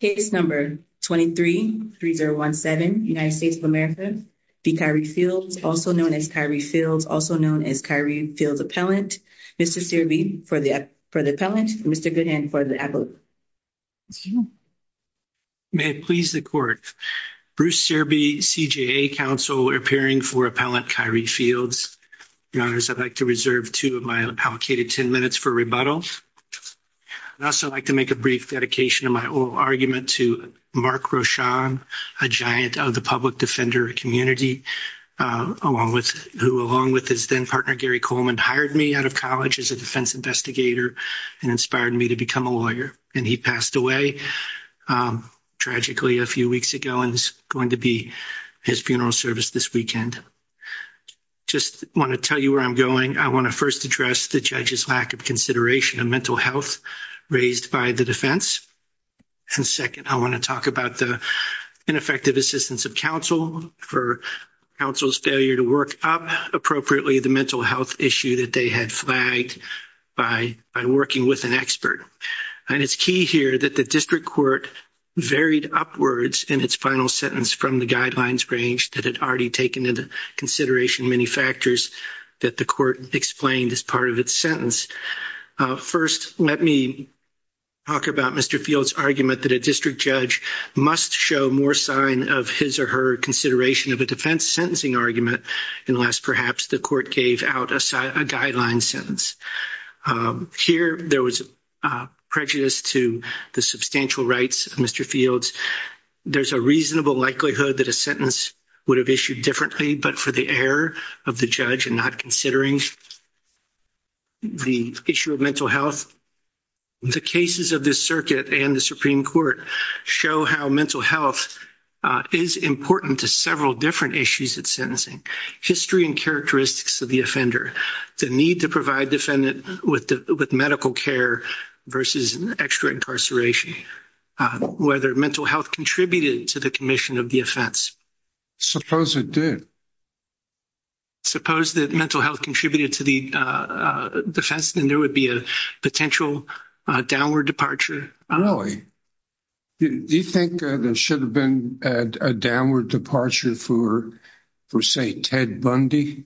Case No. 23-3017, United States of America v. Kyre Fields, also known as Kyre Fields, also known as Kyre Fields Appellant. Mr. Searby for the appellant, Mr. Goodhand for the appellant. May it please the Court. Bruce Searby, CJA Counsel, appearing for Appellant Kyre Fields. Your Honors, I'd like to reserve two of my allocated ten minutes for rebuttal. I'd also like to make a brief dedication of my oral argument to Mark Rochon, a giant of the public defender community, who along with his then partner Gary Coleman hired me out of college as a defense investigator and inspired me to become a lawyer. And he passed away tragically a few weeks ago and is going to be his funeral service this weekend. Just want to tell you where I'm going. I want to first address the judge's lack of consideration of mental health raised by the defense. And second, I want to talk about the ineffective assistance of counsel for counsel's failure to work up appropriately the mental health issue that they had flagged by working with an expert. And it's key here that the district court varied upwards in its final sentence from the guidelines range that had already taken into consideration many factors that the court explained as part of its sentence. First, let me talk about Mr. Fields' argument that a district judge must show more sign of his or her consideration of a defense sentencing argument unless perhaps the court gave out a guideline sentence. Here, there was prejudice to the substantial rights of Mr. Fields. There's a reasonable likelihood that a sentence would have issued differently but for the error of the judge in not considering the issue of mental health. The cases of this circuit and the Supreme Court show how mental health is important to several different issues at sentencing. History and characteristics of the offender, the need to provide defendant with medical care versus extra incarceration, whether mental health contributed to the commission of the offense. Suppose it did. Suppose that mental health contributed to the defense, then there would be a potential downward departure. Really? Do you think there should have been a downward departure for, say, Ted Bundy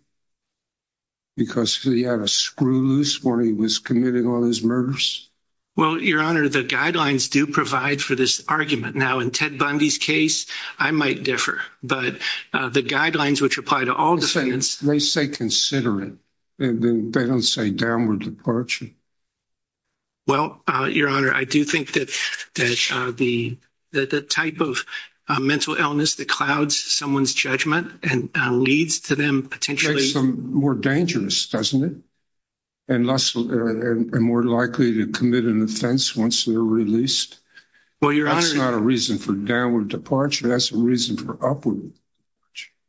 because he had a screw loose when he was committing all his murders? Well, your honor, the guidelines do provide for this argument. Now, in Ted Bundy's case, I might differ, but the guidelines which apply to all defendants... They say considerate and then they don't say downward departure. Well, your honor, I do think that the type of mental illness that clouds someone's judgment and leads to them potentially... Makes them more dangerous, doesn't it? And more likely to commit an offense once they're released. That's not a reason for downward departure, that's a reason for upward.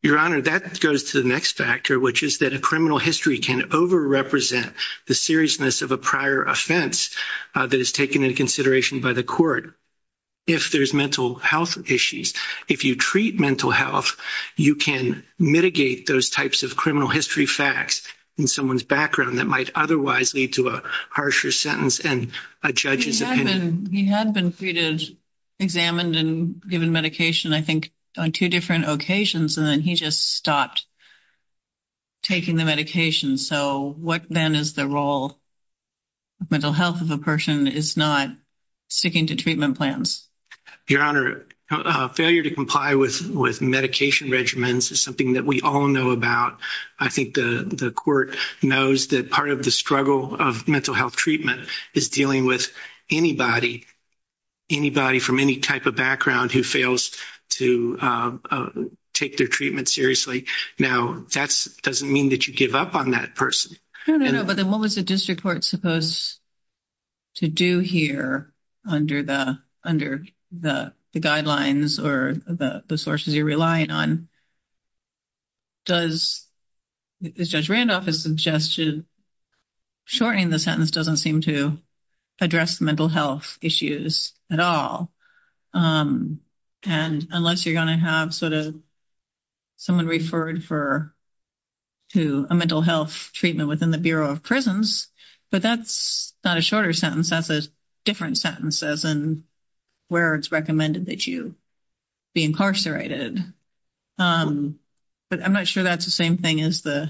Your honor, that goes to the next factor, which is that a criminal history can over-represent the seriousness of a prior offense that is taken into consideration by the court. If there's mental health issues, if you treat mental health, you can mitigate those types of criminal history facts in someone's background that might otherwise lead to a harsher sentence and a judge's opinion. He had been treated, examined and given medication, I think, on two different occasions and then he just stopped taking the medication. So, what then is the role mental health of a person is not sticking to treatment plans? Your honor, failure to comply with medication regimens is something that we all know about. I think the court knows that part of the struggle of mental health treatment is dealing with anybody, anybody from any type of background who fails to take their treatment seriously. Now, that doesn't mean that you give up on that person. No, no, no. But then what was the district court supposed to do here under the under the guidelines or the sources you're relying on? Does, as Judge Randolph has suggested, shortening the sentence doesn't seem to address mental health issues at all. And unless you're going to have sort of someone referred for to a mental health treatment within the Bureau of Prisons, but that's not a shorter sentence. That's a different sentence as in where it's recommended that you be incarcerated. But I'm not sure that's the same thing as the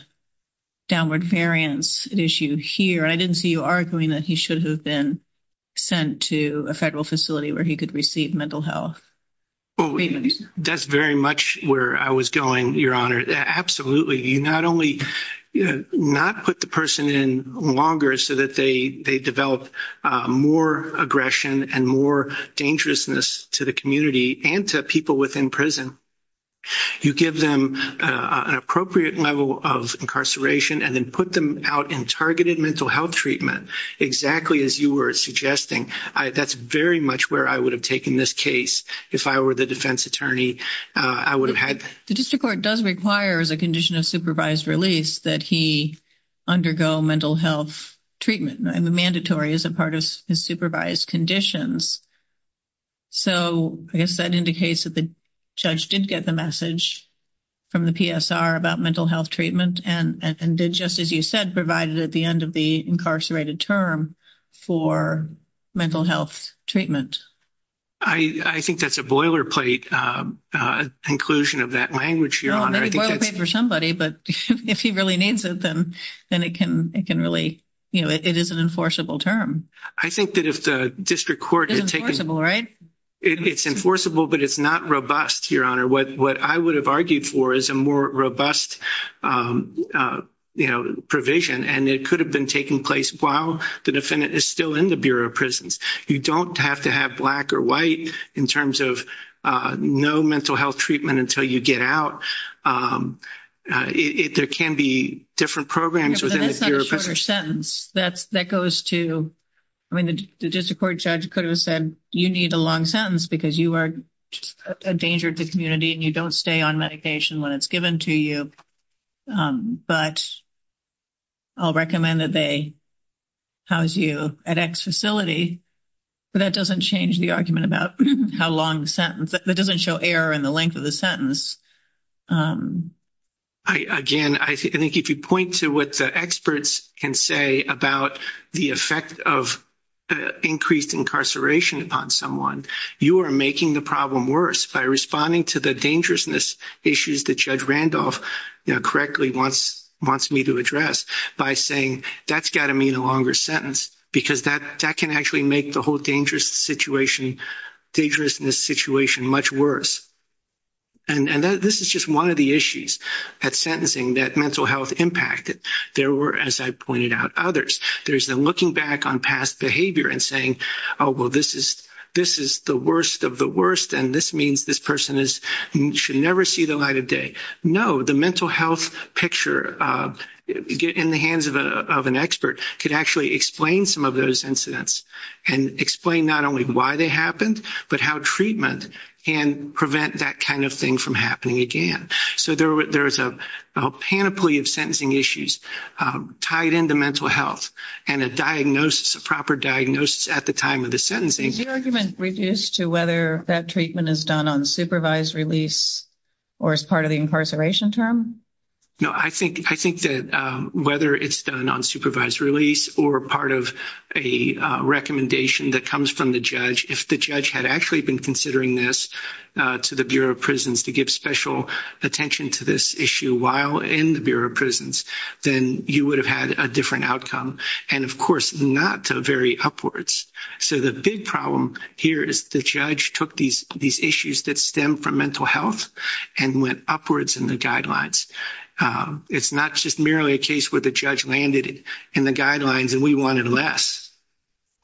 downward variance issue here. I didn't see you arguing that he should have been sent to a federal facility where he could receive mental health. That's very much where I was going, your honor. Absolutely. You not only, not put the person in longer so that they develop more aggression and more dangerousness to the community and to people within prison. You give them an appropriate level of incarceration and then put them out in targeted mental health treatment, exactly as you were suggesting. That's very much where I would have taken this case. If I were the defense attorney, I would that he undergo mental health treatment and the mandatory is a part of his supervised conditions. So I guess that indicates that the judge did get the message from the PSR about mental health treatment and did, just as you said, provide it at the end of the incarcerated term for mental health treatment. I think that's a boilerplate inclusion of that language, your honor. Maybe boilerplate for somebody, but if he really needs it, then it can really, you know, it is an enforceable term. I think that if the district court is taking... It's enforceable, right? It's enforceable, but it's not robust, your honor. What I would have argued for is a more robust provision and it could have been taking place while the defendant is still in the Bureau of Prisons. You don't have to have black or white in terms of no mental health treatment until you get out. There can be different programs. But that's not a shorter sentence. That goes to, I mean, the district court judge could have said, you need a long sentence because you are a danger to the community and you don't stay on medication when it's given to you. But I'll recommend that they house you at X facility, but that doesn't change the argument about how long the sentence... That doesn't show error in the length of the sentence. Again, I think if you point to what the experts can say about the effect of increased incarceration upon someone, you are making the problem worse by responding to the dangerousness issues that Judge Randolph correctly wants me to address by saying, that's got to mean a longer sentence because that can actually make the whole dangerousness situation much worse. And this is just one of the issues at sentencing that mental health impacted. There were, as I pointed out, others. There's the looking back on past behavior and saying, oh, well, this is the worst of the worst. And this means this person should never see the light of day. No, the mental health picture in the hands of an expert could actually explain some of those incidents and explain not only why they happened, but how treatment can prevent that kind of thing from happening again. So there is a panoply of sentencing issues tied into mental health and a diagnosis, a proper diagnosis at the time of the sentencing. Is the argument reduced to whether that treatment is done on supervised release or as part of the incarceration term? No, I think that whether it's done on supervised release or part of a recommendation that comes from the judge, if the judge had actually been considering this to the Bureau of Prisons to give special attention to this issue while in the Bureau of Prisons, then you would have had a different outcome and, of course, not very upwards. So the big problem here is the judge took these issues that stem from mental health and went upwards in the guidelines. It's not just merely a case where the judge landed in the guidelines and we wanted less.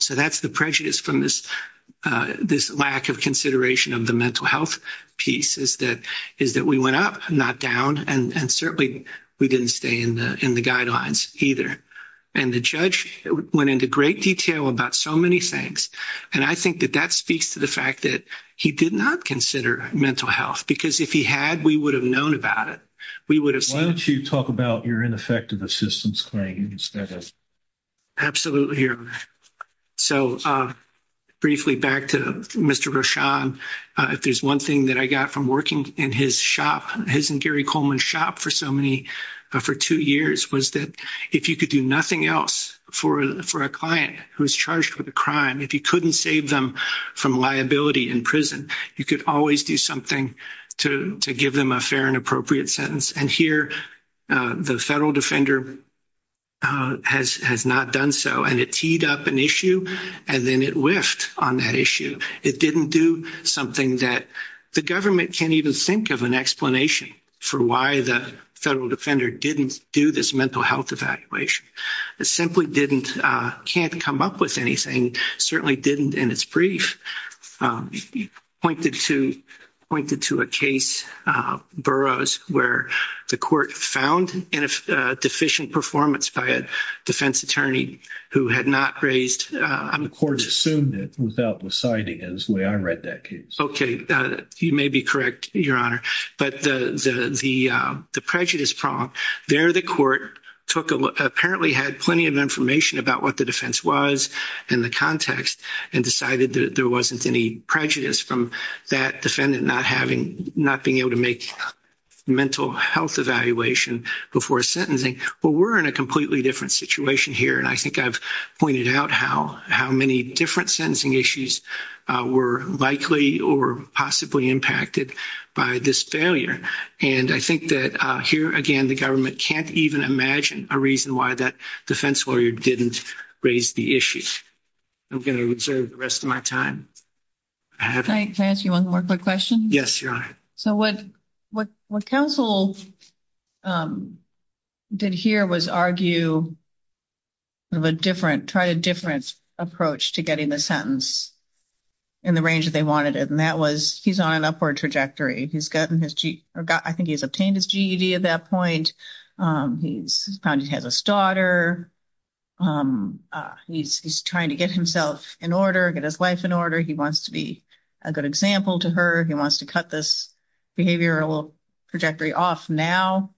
So that's the prejudice from this lack of consideration of the mental health piece is that we went up, not down, and certainly we didn't stay in the guidelines either. And the judge went into great detail about so many things. And I think that speaks to the fact that he did not consider mental health because if he had, we would have known about it. Why don't you talk about your ineffective assistance claims? Absolutely. So briefly back to Mr. Rochon, if there's one thing that I got from working in his shop, his and Gary Coleman's shop for two years, was that if you could do nothing else for a client who is charged with a crime, if you couldn't save them from liability in prison, you could always do something to give them a fair and appropriate sentence. And here the federal defender has not done so. And it teed up an issue and then it whiffed on that issue. It didn't do something that the government can't even think of an explanation for why the federal defender didn't do this mental health evaluation. It simply didn't, can't come up with anything, certainly didn't in its brief. It pointed to a case, Burroughs, where the court found deficient performance by a defense attorney who had not raised- The court assumed it without the citing as the way I read that case. Okay. You may be correct, Your Honor. But the prejudice prompt, there the court apparently had plenty of information about what the defense was and the context and decided that there wasn't any prejudice from that defendant not being able to make mental health evaluation before sentencing. Well, we're in a completely different situation here. And I think I've pointed out how many different sentencing issues were likely or possibly impacted by this failure. And I think that here, again, the government can't even imagine a reason why that defense lawyer didn't raise the issue. I'm going to reserve the rest of my time. Can I ask you one more quick question? Yes, Your Honor. So what counsel did here was argue of a different, tried a different approach to getting the sentence in the range that they he's on an upward trajectory. He's gotten his- I think he's obtained his GED at that point. He's found he has a daughter. He's trying to get himself in order, get his life in order. He wants to be a good example to her. He wants to cut this behavioral trajectory off now.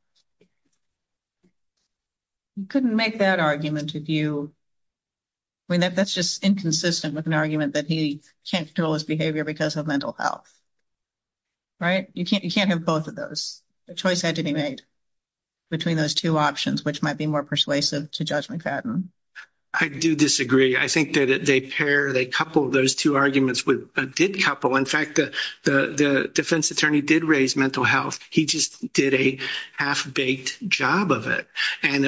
You couldn't make that argument if you- I mean, that's just inconsistent with an argument that he can't control his behavior because of mental health, right? You can't have both of those. The choice had to be made between those two options, which might be more persuasive to Judge McFadden. I do disagree. I think that they pair, they couple those two arguments with- did couple. In fact, the defense attorney did raise mental health. He just did a half-baked job of it. And,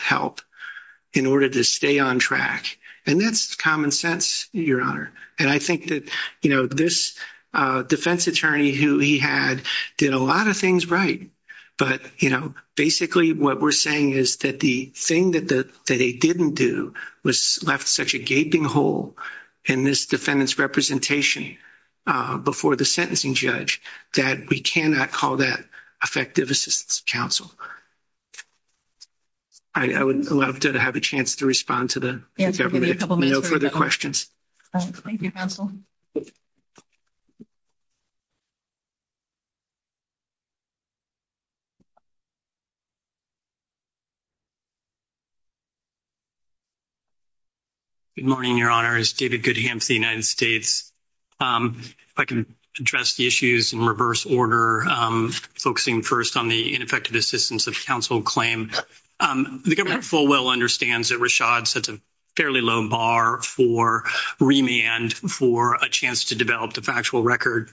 help in order to stay on track. And that's common sense, Your Honor. And I think that, you know, this defense attorney who he had did a lot of things right. But, you know, basically what we're saying is that the thing that they didn't do was left such a gaping hole in this defendant's representation before the sentencing judge that we cannot call that effective assistance to counsel. I would love to have a chance to respond to the- Yeah, give me a couple minutes. No further questions. Thank you, counsel. Good morning, Your Honor. It's David Goodham for the United States. If I can address the in reverse order, focusing first on the ineffective assistance of counsel claim. The government full well understands that Rashad sets a fairly low bar for remand for a chance to develop the factual record.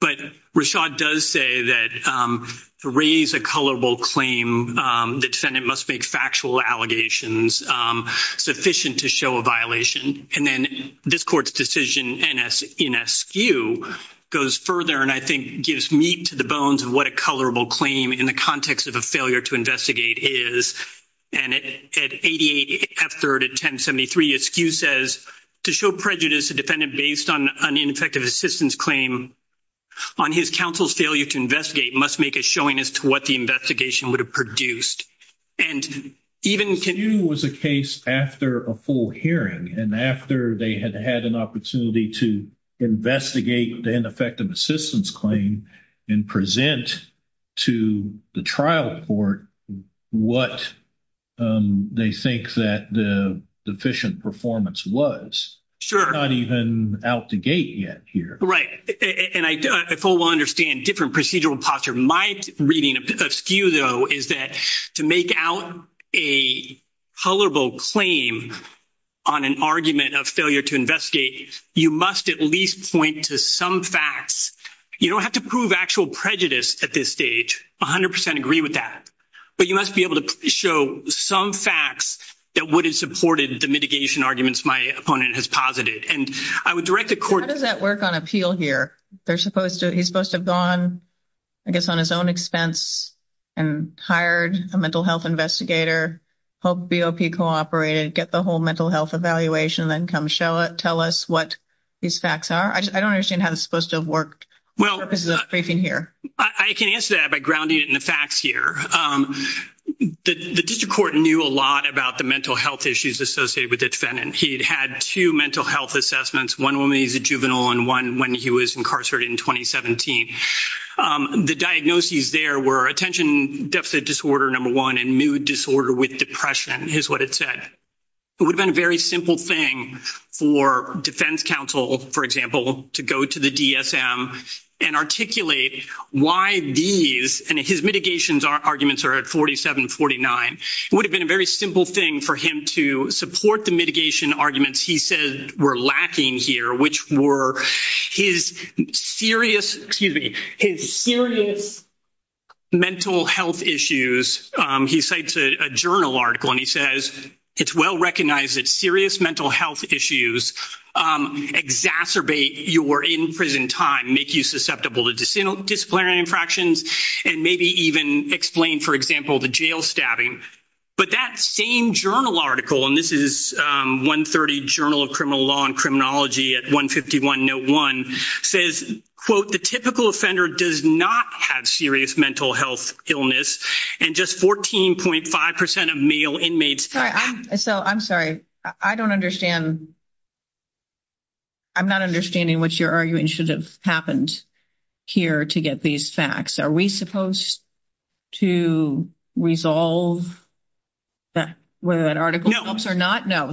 But Rashad does say that to raise a colorable claim, the defendant must make factual allegations sufficient to show a violation. And then this court's decision NSQ goes further and I think gives meat to the bones of what a colorable claim in the context of a failure to investigate is. And at 88 F-3rd at 1073, NSQ says to show prejudice a defendant based on an ineffective assistance claim on his counsel's failure to investigate must make a showing as to what the investigation would have produced. And even- NSQ was a case after a full hearing and after they had had an opportunity to investigate the ineffective assistance claim and present to the trial court what they think that the deficient performance was. Sure. Not even out the gate yet here. Right. And I full well understand different procedural posture. My reading of NSQ though is that to make out a colorable claim on an argument of failure to investigate, you must at least point to some facts. You don't have to prove actual prejudice at this stage, 100% agree with that. But you must be able to show some facts that would have supported the mitigation arguments my opponent has posited. And I would direct the court- How does that work on appeal here? They're supposed to, he's supposed to have gone, I guess on his own expense and hired a mental health investigator, hope BOP cooperated, get the whole mental health evaluation, then come show it, tell us what these facts are. I don't understand how this is supposed to have worked. Well- For purposes of briefing here. I can answer that by grounding it in the facts here. The district court knew a lot about the mental health issues associated with the defendant. He'd had two mental health assessments, one when he was a juvenile and one when he was incarcerated in 2017. The diagnoses there were attention deficit disorder, number one, and mood disorder with depression is what it said. It would have been a very simple thing for defense counsel, for example, to go to the DSM and articulate why these, and his mitigations arguments are at 47, 49. It would have been a very simple thing for him to support the mitigation arguments he said were lacking here, which were his serious, excuse me, his serious mental health issues. He cites a journal article and he says, it's well-recognized that serious mental health issues exacerbate your in-prison time, make you susceptible to disciplinary infractions, and maybe even explain, for example, the jail stabbing. But that same journal article, and this is 130 Journal of Criminal Law and Criminology at 151 Note 1, says, quote, the typical offender does not have serious mental health illness, and just 14.5 percent of male inmates- I'm sorry. I don't understand. I'm not understanding what you're arguing should have happened here to get these facts. Are we supposed to resolve whether that article helps or not? No,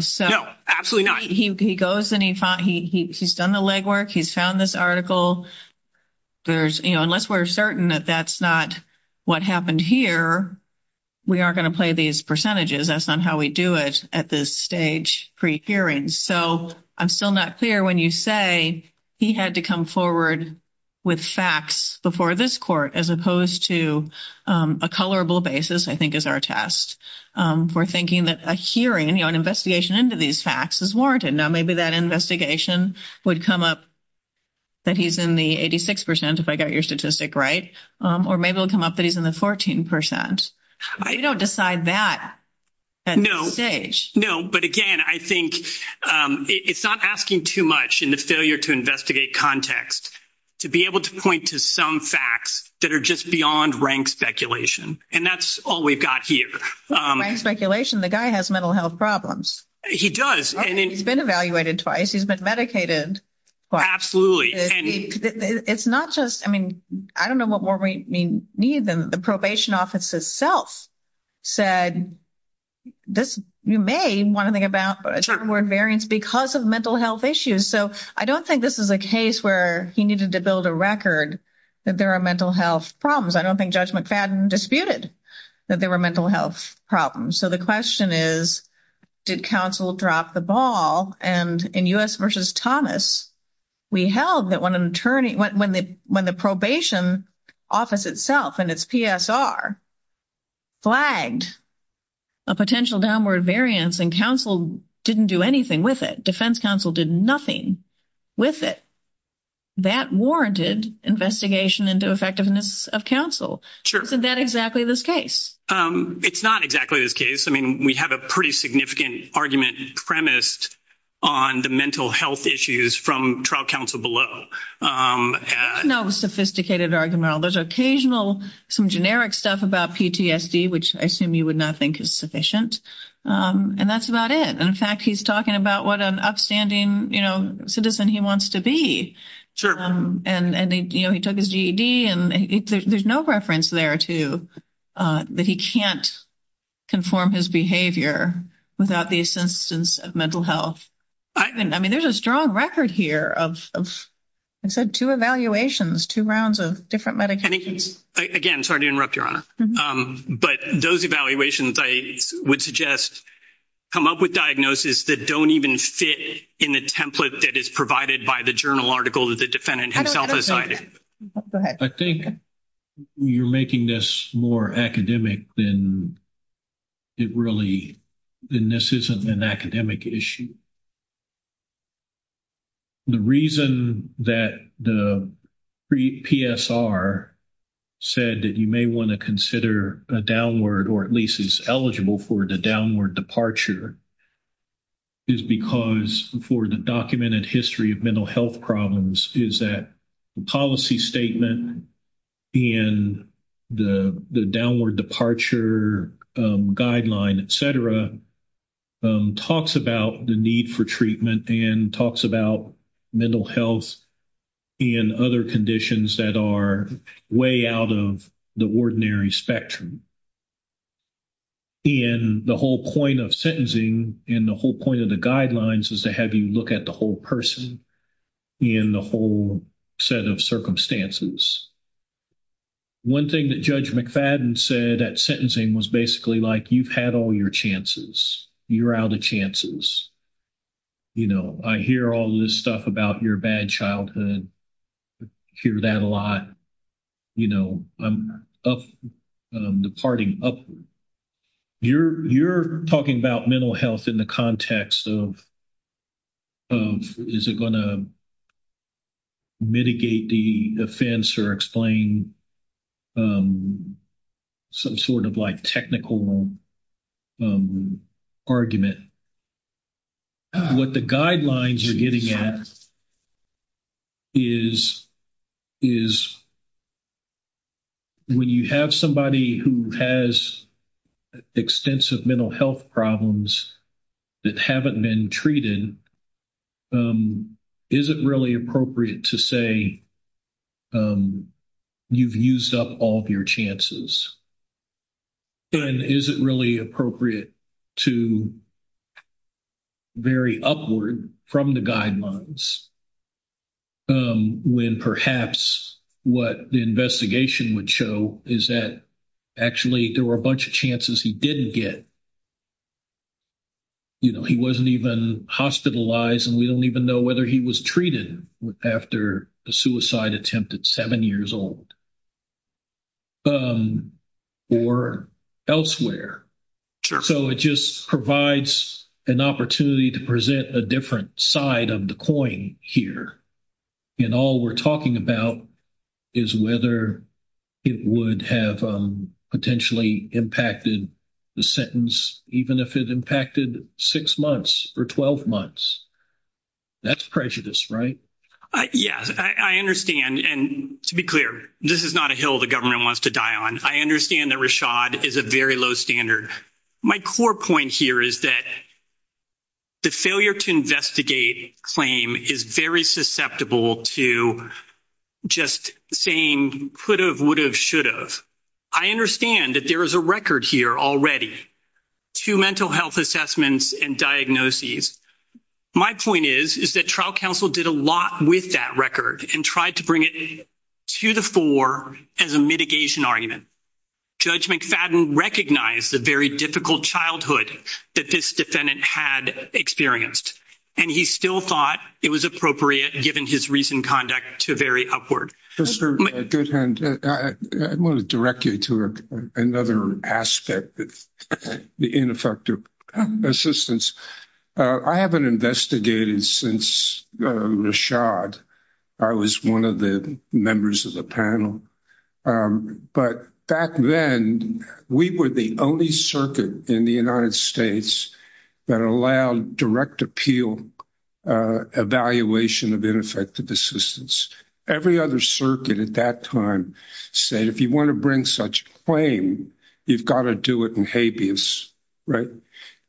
absolutely not. He goes and he's done the legwork. He's found this article. There's, you know, unless we're certain that that's not what happened here, we aren't going to play these percentages. That's not how we do it at this stage pre-hearing. So I'm still not clear when you say he had to come forward with facts before this court, as opposed to a colorable basis, I think is our test, for thinking that a hearing, you know, an investigation into these facts is warranted. Now maybe that investigation would come up that he's in the 86 percent, if I got your statistic right, or maybe it'll come up that he's in the 14 percent. You don't decide that at this stage. No, but again, I think it's not asking too much in the failure to investigate context to be able to point to some facts that are just beyond rank speculation, and that's all we've got here. Rank speculation? The guy has mental health problems. He does. He's been evaluated twice. He's been medicated. Absolutely. It's not just, I mean, I don't know what more we need than the probation office itself said, this, you may want to think about a term word variance because of mental health issues. So I don't think this is a case where he needed to build a record that there are mental health problems. I don't think Judge McFadden disputed that there were mental health problems. So the question is, did counsel drop the ball? And in U.S. v. Thomas, we held that when the probation office itself and its PSR flagged a potential downward variance and counsel didn't do anything with it. Defense counsel did nothing with it. That warranted investigation into effectiveness of counsel. Sure. Isn't that exactly this case? It's not exactly this case. I mean, we have a pretty significant argument premised on the mental health issues from trial counsel below. No sophisticated argument. There's occasional, some generic stuff about PTSD, which I assume you would not think is sufficient. And that's about it. And in fact, he's talking about what an upstanding citizen he wants to be. Sure. And he took his GED and there's no reference there to that he can't conform his behavior without the assistance of mental health. I mean, there's a strong record here of, I said, two evaluations, two rounds of different medications. Again, sorry to interrupt, Your Honor. But those evaluations I would suggest come up with diagnosis that don't even fit in the template that is provided by the journal article that the defendant himself has cited. I think you're making this more academic than it really, and this isn't an academic issue. The reason that the PSR said that you may want to consider a downward or at least is eligible for the downward departure is because for the documented history of mental health problems is that policy statement and the downward departure guideline, et cetera, talks about the need for treatment and talks about mental health and other conditions that are way out of the ordinary spectrum. And the whole point of sentencing and the whole point of the set of circumstances. One thing that Judge McFadden said at sentencing was basically like, you've had all your chances. You're out of chances. You know, I hear all this stuff about your bad childhood. I hear that a lot. You know, I'm up, departing upward. You're talking about mental health in the context of is it going to mitigate the offense or explain some sort of like technical argument. What the guidelines are getting at is when you have somebody who has extensive mental health problems that haven't been treated, is it really appropriate to say you've used up all of your chances? And is it really appropriate to vary upward from the guidelines when perhaps what the investigation would show is that actually there were a bunch of chances he didn't get. You know, he wasn't even hospitalized and we don't even know whether he was treated after the suicide attempt at seven years old or elsewhere. So it just provides an opportunity to present a different side of the coin here. And all we're talking about is whether it would have potentially impacted the sentence, even if it impacted six months or 12 months. That's prejudice, right? Yes. I understand. And to be clear, this is not a hill the government wants to die on. I understand that Rashad is a very low standard. My core point here is that the failure to investigate claim is very susceptible to just saying could have, would have, should have. I understand that there is a record here already, two mental health assessments and diagnoses. My point is, is that trial counsel did a lot with that record and tried to bring it to the fore as a mitigation argument. Judge McFadden recognized the very difficult childhood that this defendant had experienced, and he still thought it was appropriate given his recent conduct to vary upward. Mr. Goodhand, I want to direct you to another aspect of the ineffective assistance. I haven't investigated since Rashad. I was one of the members of the panel. But back then, we were the only circuit in the United States that allowed direct appeal evaluation of ineffective assistance. Every other circuit at that time said, if you want to bring such claim, you've got to do it in habeas, right?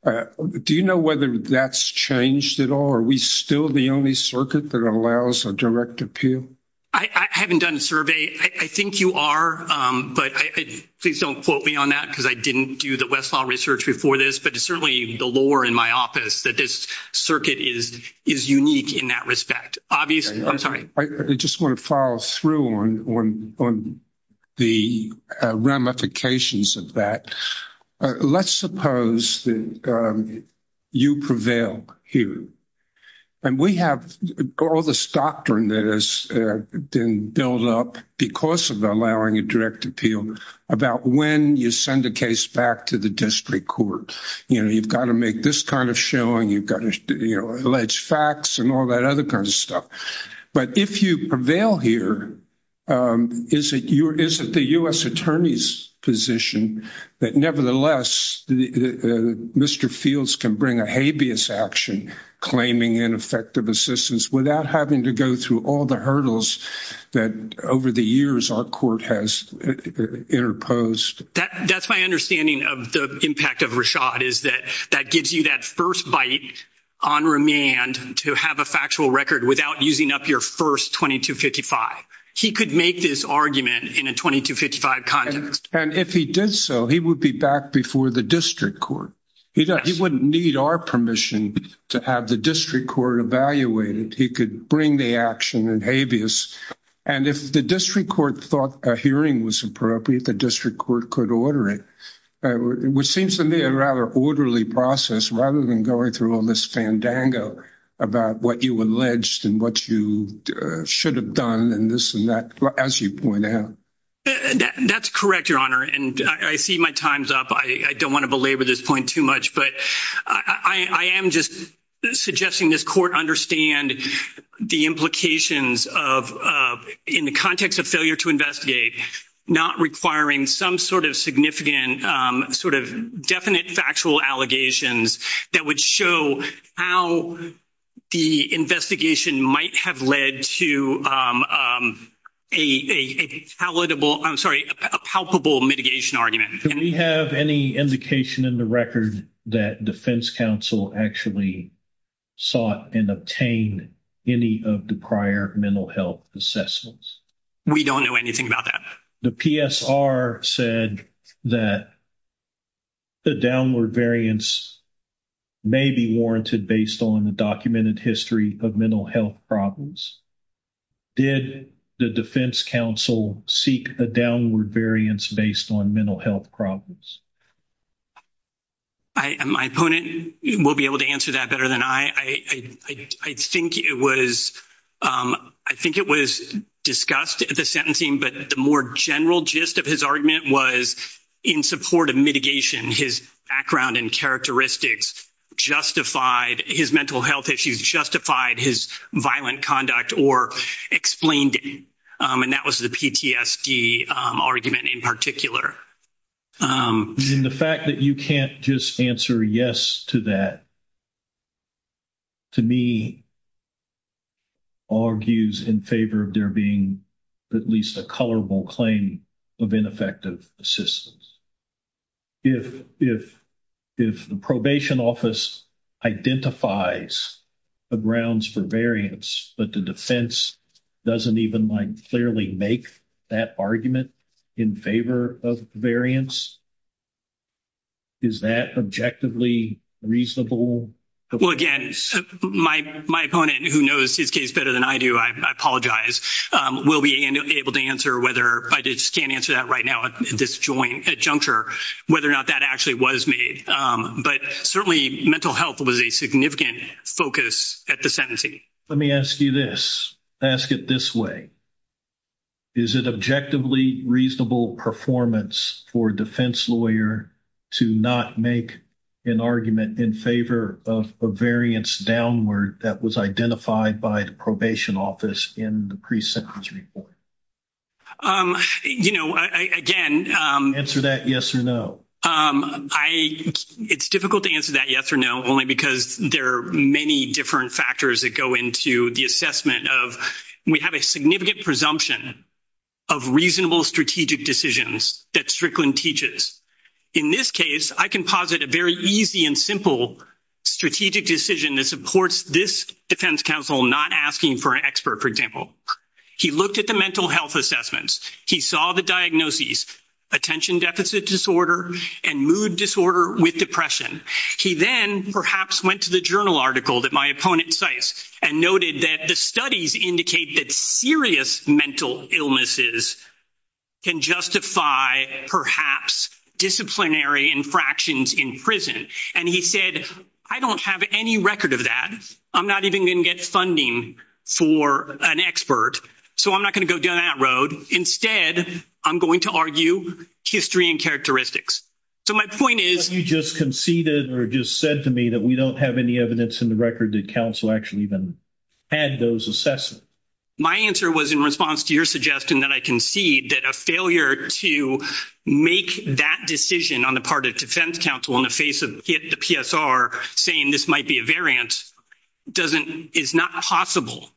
Do you know whether that's changed at all? Are we still the only circuit that allows a direct appeal? I haven't done a survey. I think you are, but please don't quote me on that because I didn't do the Westlaw research before this, but it's certainly the lore in my office that this circuit is unique in that respect. Obviously, I'm sorry. I just want to follow through on the ramifications of that. Let's suppose that you prevail here, and we have all this doctrine that has been built up because of allowing a direct appeal about when you send a case back to the district court. You've got to make this showing. You've got to allege facts and all that other kind of stuff. But if you prevail here, is it the U.S. attorney's position that nevertheless, Mr. Fields can bring a habeas action claiming ineffective assistance without having to go through all the hurdles that over the years our court has interposed? That's my understanding of the impact of Rashad is that that gives you that first bite on remand to have a factual record without using up your first 2255. He could make this argument in a 2255 context. And if he did so, he would be back before the district court. He wouldn't need our permission to have the district court evaluate it. He could bring the action in habeas. And if the district court thought a hearing was appropriate, the court could order it, which seems to me a rather orderly process rather than going through all this fandango about what you alleged and what you should have done and this and that, as you point out. That's correct, Your Honor. And I see my time's up. I don't want to belabor this point too much, but I am just suggesting this court understand the implications of in the context of to investigate, not requiring some sort of significant sort of definite factual allegations that would show how the investigation might have led to a palatable, I'm sorry, a palpable mitigation argument. Do we have any indication in the record that defense counsel actually sought and obtained any of the prior mental health assessments? We don't know anything about that. The PSR said that the downward variance may be warranted based on the documented history of mental health problems. Did the defense counsel seek a downward variance based on mental health problems? I, my opponent will be able to answer that better than I. I think it was, I think it was discussed, the sentencing, but the more general gist of his argument was in support of mitigation, his background and characteristics justified his mental health issues, justified his violent And the fact that you can't just answer yes to that, to me, argues in favor of there being at least a colorable claim of ineffective assistance. If, if, if the probation office identifies the grounds for variance, but the defense doesn't even like clearly make that argument in favor of variance, is that objectively reasonable? Well, again, my, my opponent who knows his case better than I do, I apologize, will be able to answer whether I just can't answer that right now at this joint juncture, whether or not that actually was made. But certainly mental health was a significant focus at the sentencing. Let me ask you this, ask it this way. Is it objectively reasonable performance for a defense lawyer to not make an argument in favor of a variance downward that was identified by the probation office in the pre-sentence report? You know, I, again, Answer that yes or no. I, it's difficult to answer that yes or no, only because there are many different factors that go into the assessment of, we have a significant presumption of reasonable strategic decisions that Strickland teaches. In this case, I can posit a very easy and simple strategic decision that supports this defense counsel not asking for an expert, for example. He looked at the mental assessments. He saw the diagnoses, attention deficit disorder, and mood disorder with depression. He then perhaps went to the journal article that my opponent cites and noted that the studies indicate that serious mental illnesses can justify perhaps disciplinary infractions in prison. And he said, I don't have any record of that. I'm not even going to get funding for an expert. So I'm not going to go down that road. Instead, I'm going to argue history and characteristics. So my point is. You just conceded or just said to me that we don't have any evidence in the record that counsel actually even had those assessments. My answer was in response to your suggestion that I concede that a failure to make that decision on the part of defense counsel in the face of the PSR saying this might be a variant is not possible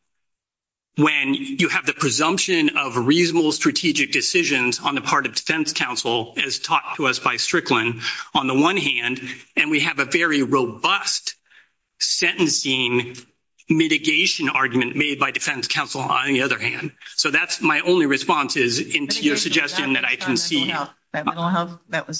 when you have the presumption of reasonable strategic decisions on the part of defense counsel as taught to us by Strickland on the one hand, and we have a very robust sentencing mitigation argument made by defense counsel on the other hand. So that's my only response is into your suggestion that I can The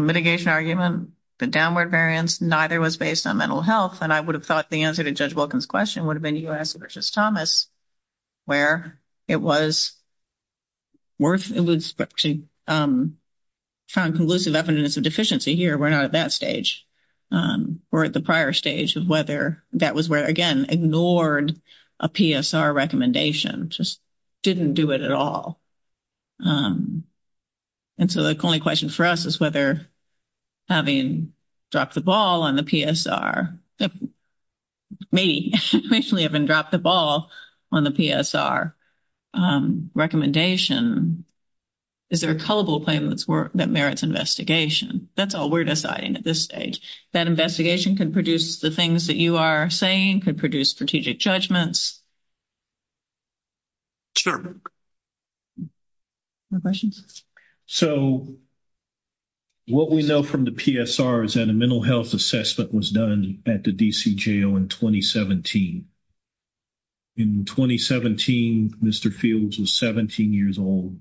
mitigation argument, the downward variance, neither was based on mental health. And I would have thought the answer to Judge Wilkins question would have been U.S. versus Thomas, where it was worth it was actually found conclusive evidence of deficiency here. We're not at that stage or at the prior stage of whether that was where again ignored a PSR recommendation just didn't do it at all. And so the only question for us is whether having dropped the ball on the PSR may actually have been dropped the ball on the PSR recommendation. Is there a culpable claim that's worth that merits investigation? That's all we're deciding at this stage that investigation can produce the things that you are saying could produce strategic judgments. Sure. No questions? So what we know from the PSR is that a mental health assessment was done at the D.C. jail in 2017. In 2017, Mr. Fields was 17 years old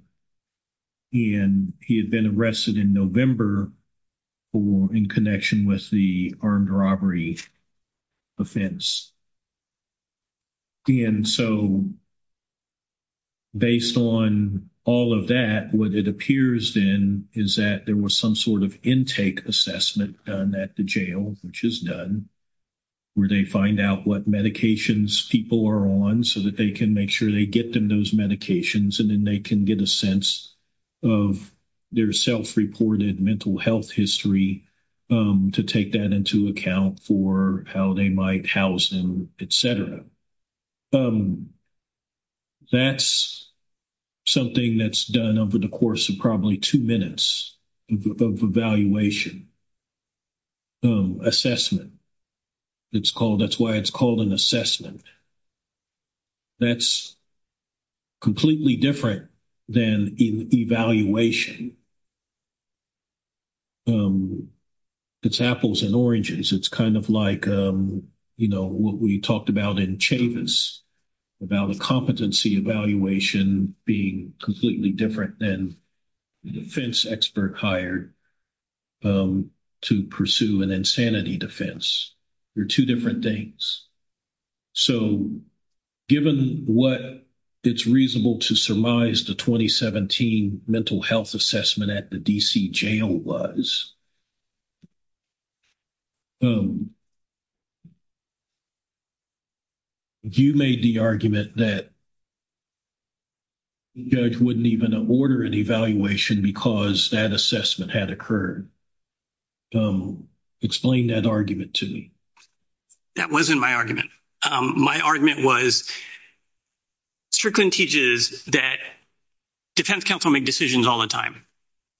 and he had been arrested in November for in connection with the armed robbery offense. And so based on all of that, what it appears then is that there was some sort of intake assessment done at the jail, which is done where they find out what medications people are on so that they can make sure they get them those medications and then they can get a sense of their self-reported health history to take that into account for how they might house them, et cetera. That's something that's done over the course of probably two minutes of evaluation, assessment. That's why it's called an assessment. That's completely different than an evaluation. It's apples and oranges. It's kind of like what we talked about in Chavis, about a competency evaluation being completely different than the defense expert hired to pursue an insanity defense. They're two different things. So given what it's reasonable to surmise the 2017 mental health assessment at the D.C. jail was, you made the argument that the judge wouldn't even order an evaluation because that assessment had occurred. Explain that argument to me. That wasn't my argument. My argument was Strickland teaches that defense counsel make decisions all the time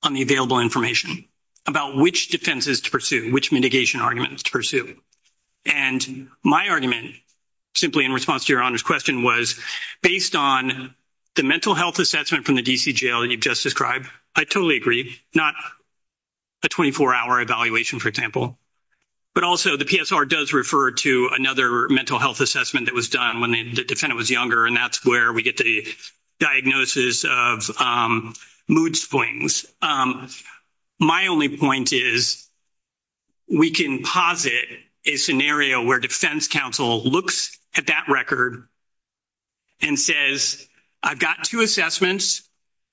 on the available information about which defenses to pursue, which mitigation arguments to pursue. And my argument, simply in response to your Honor's question, was based on the mental health assessment from the D.C. jail that you've just described, I totally agree, not a 24-hour evaluation, for example. But also, the PSR does refer to another mental health assessment that was done when the defendant was younger, and that's where we get the diagnosis of mood swings. My only point is, we can posit a scenario where defense counsel looks at that record and says, I've got two assessments.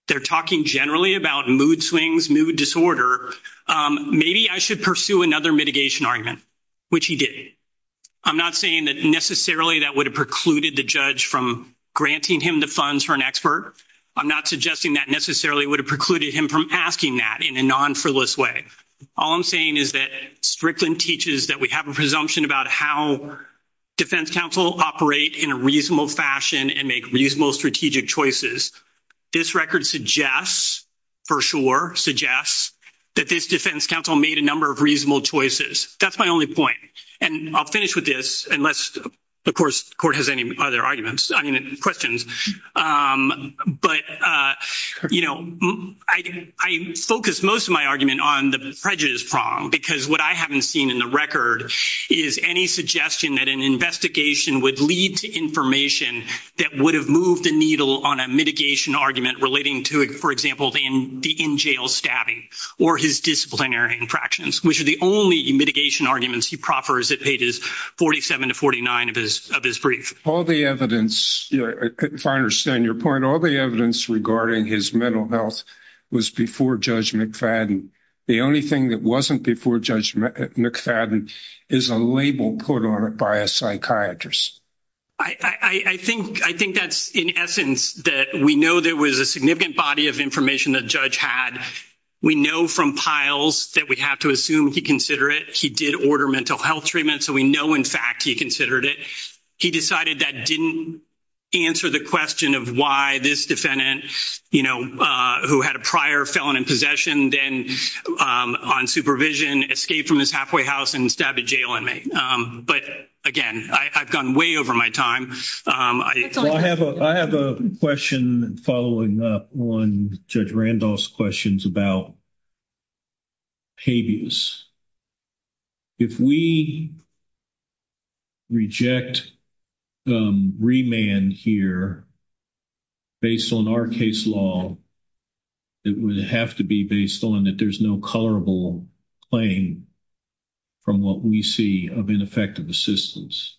They're talking generally about mood swings, mood disorder. Maybe I should pursue another mitigation argument, which he did. I'm not saying that necessarily that would have precluded the judge from granting him the funds for an expert. I'm not suggesting that necessarily would have precluded him from asking that in a non-frivolous way. All I'm saying is that Strickland teaches that we have a presumption about how defense counsel operate in a reasonable fashion and make reasonable strategic choices. This record suggests, for sure, suggests that this defense counsel made a number of reasonable choices. That's my only point. And I'll finish with this, unless, of course, court has any other arguments, I mean, questions. But, you know, I focus most of my argument on the prejudice prong, because what I haven't seen in the record is any suggestion that an investigation would lead to information that would have moved the needle on a mitigation argument relating to, for example, the in-jail stabbing or his disciplinary infractions, which are the only mitigation arguments he proffers at pages 47 to 49 of his brief. All the evidence, if I understand your point, all the evidence regarding his mental health was before Judge McFadden. The only thing that wasn't before Judge McFadden is a label put on by a psychiatrist. I think that's, in essence, that we know there was a significant body of information the judge had. We know from piles that we have to assume he considered it. He did order mental health treatment, so we know, in fact, he considered it. He decided that didn't answer the question of why this defendant, you know, who had a prior felon in possession then on supervision, escaped from his halfway house and stabbed a jail inmate. But again, I've gone way over my time. I have a question following up on Judge Randolph's questions about habeas. If we reject remand here based on our case law, it would have to be based on that there's no colorable claim from what we see of ineffective assistance.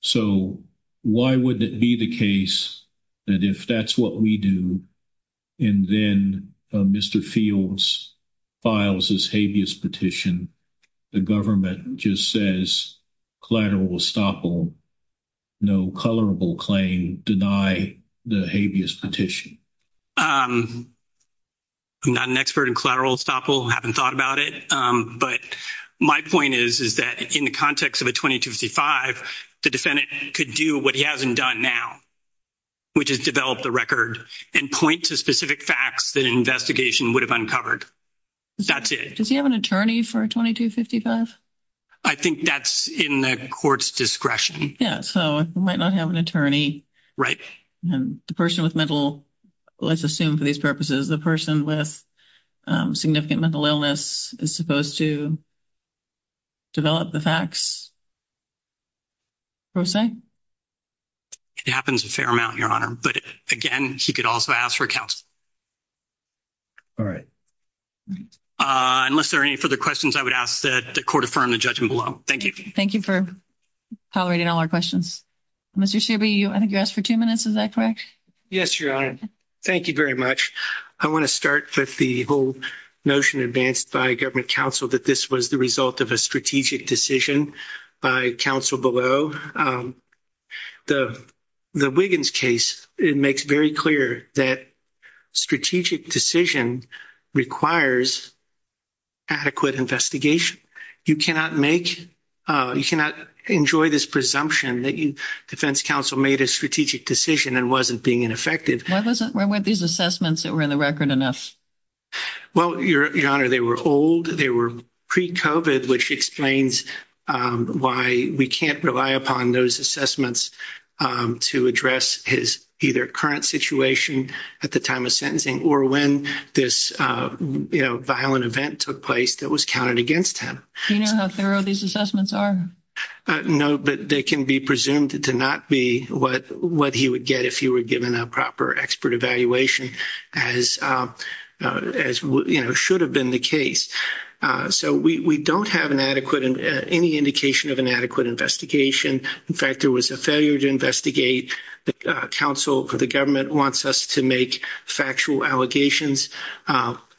So why would it be the case that if that's what we do and then Mr. Fields files his habeas petition, the government just says collateral estoppel, no colorable claim, deny the habeas petition? I'm not an expert in collateral estoppel, haven't thought about it, but my point is that in the context of a 2255, the defendant could do what he hasn't done now, which is develop the record and point to specific facts that an investigation would have uncovered. That's it. Does he have an attorney for a 2255? I think that's in the court's discretion. Yeah, so he might not have an attorney. Right. And the person with mental, let's assume for these purposes, the person with significant mental illness is supposed to develop the facts, per se? It happens a fair amount, Your Honor, but again, she could also ask for counsel. All right. Unless there are any further questions, I would ask that the court affirm the judgment below. Thank you. Thank you for tolerating all our questions. Mr. Shoeby, I think you asked for two minutes. Is that correct? Yes, Your Honor. Thank you very much. I want to start with the whole notion advanced by government counsel that this was the result of a strategic decision by counsel below the Wiggins case. It makes very clear that strategic decision requires adequate investigation. You cannot make, you cannot enjoy this presumption that you, defense counsel, made a strategic decision and wasn't being ineffective. Why wasn't, why weren't these assessments that were in the record enough? Well, Your Honor, they were old. They were pre-COVID, which explains why we can't rely upon those assessments to address his either current situation at the time of sentencing or when this violent event took place that was counted against him. Do you know how thorough these assessments are? No, but they can be presumed to not be what he would get if he were given a proper expert evaluation as should have been the case. So we don't have an adequate, any indication of an adequate investigation. In fact, there was a failure to investigate the counsel for the government wants us to make factual allegations,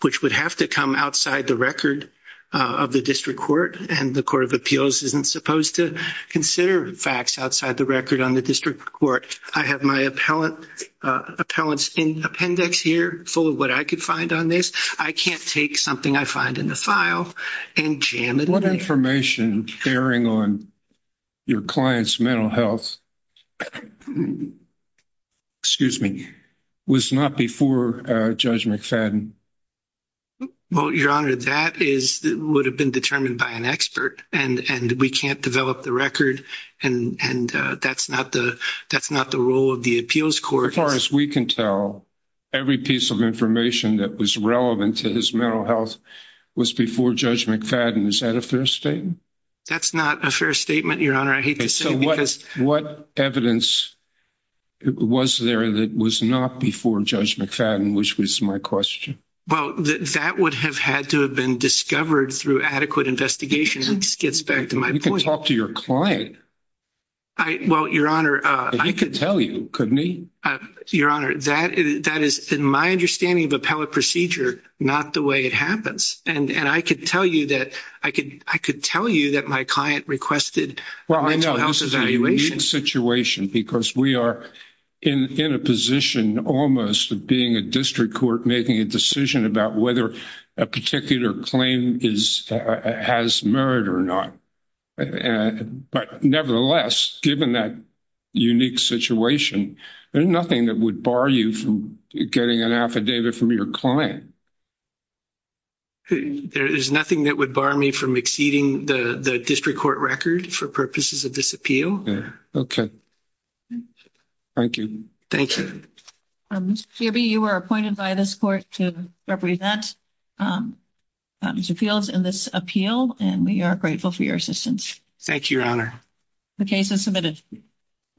which would have to come outside the record of the district court. And the court of appeals isn't supposed to consider facts outside the record on the district court. I have my appellant appellants in appendix here full of what I could find on this. I can't take something I find in the What information bearing on your client's mental health, excuse me, was not before Judge McFadden? Well, Your Honor, that is would have been determined by an expert and we can't develop the record. And that's not the role of the appeals court. As far as we can tell, every piece of information that was relevant to his mental health was before Judge McFadden. Is that a fair statement? That's not a fair statement, Your Honor. I hate to say what evidence was there that was not before Judge McFadden, which was my question. Well, that would have had to have been discovered through adequate investigation. It gets back to my point. You can talk to your client. I well, Your Honor, I could tell you, couldn't he? Your Honor, that is, in my understanding of appellate procedure, not the way it happens. And I could tell you that I could tell you that my client requested a mental health evaluation. Well, I know this is a unique situation because we are in a position almost of being a district court making a decision about whether a particular claim has merit or not. But nevertheless, given that unique situation, there's nothing that would bar you from getting an affidavit from your client. There is nothing that would bar me from exceeding the the district court record for purposes of this appeal. Okay. Thank you. Thank you. Mr. Kirby, you were appointed by this court to represent Mr. Fields in this appeal, and we are grateful for your assistance. Thank you, Your Honor. The case is submitted.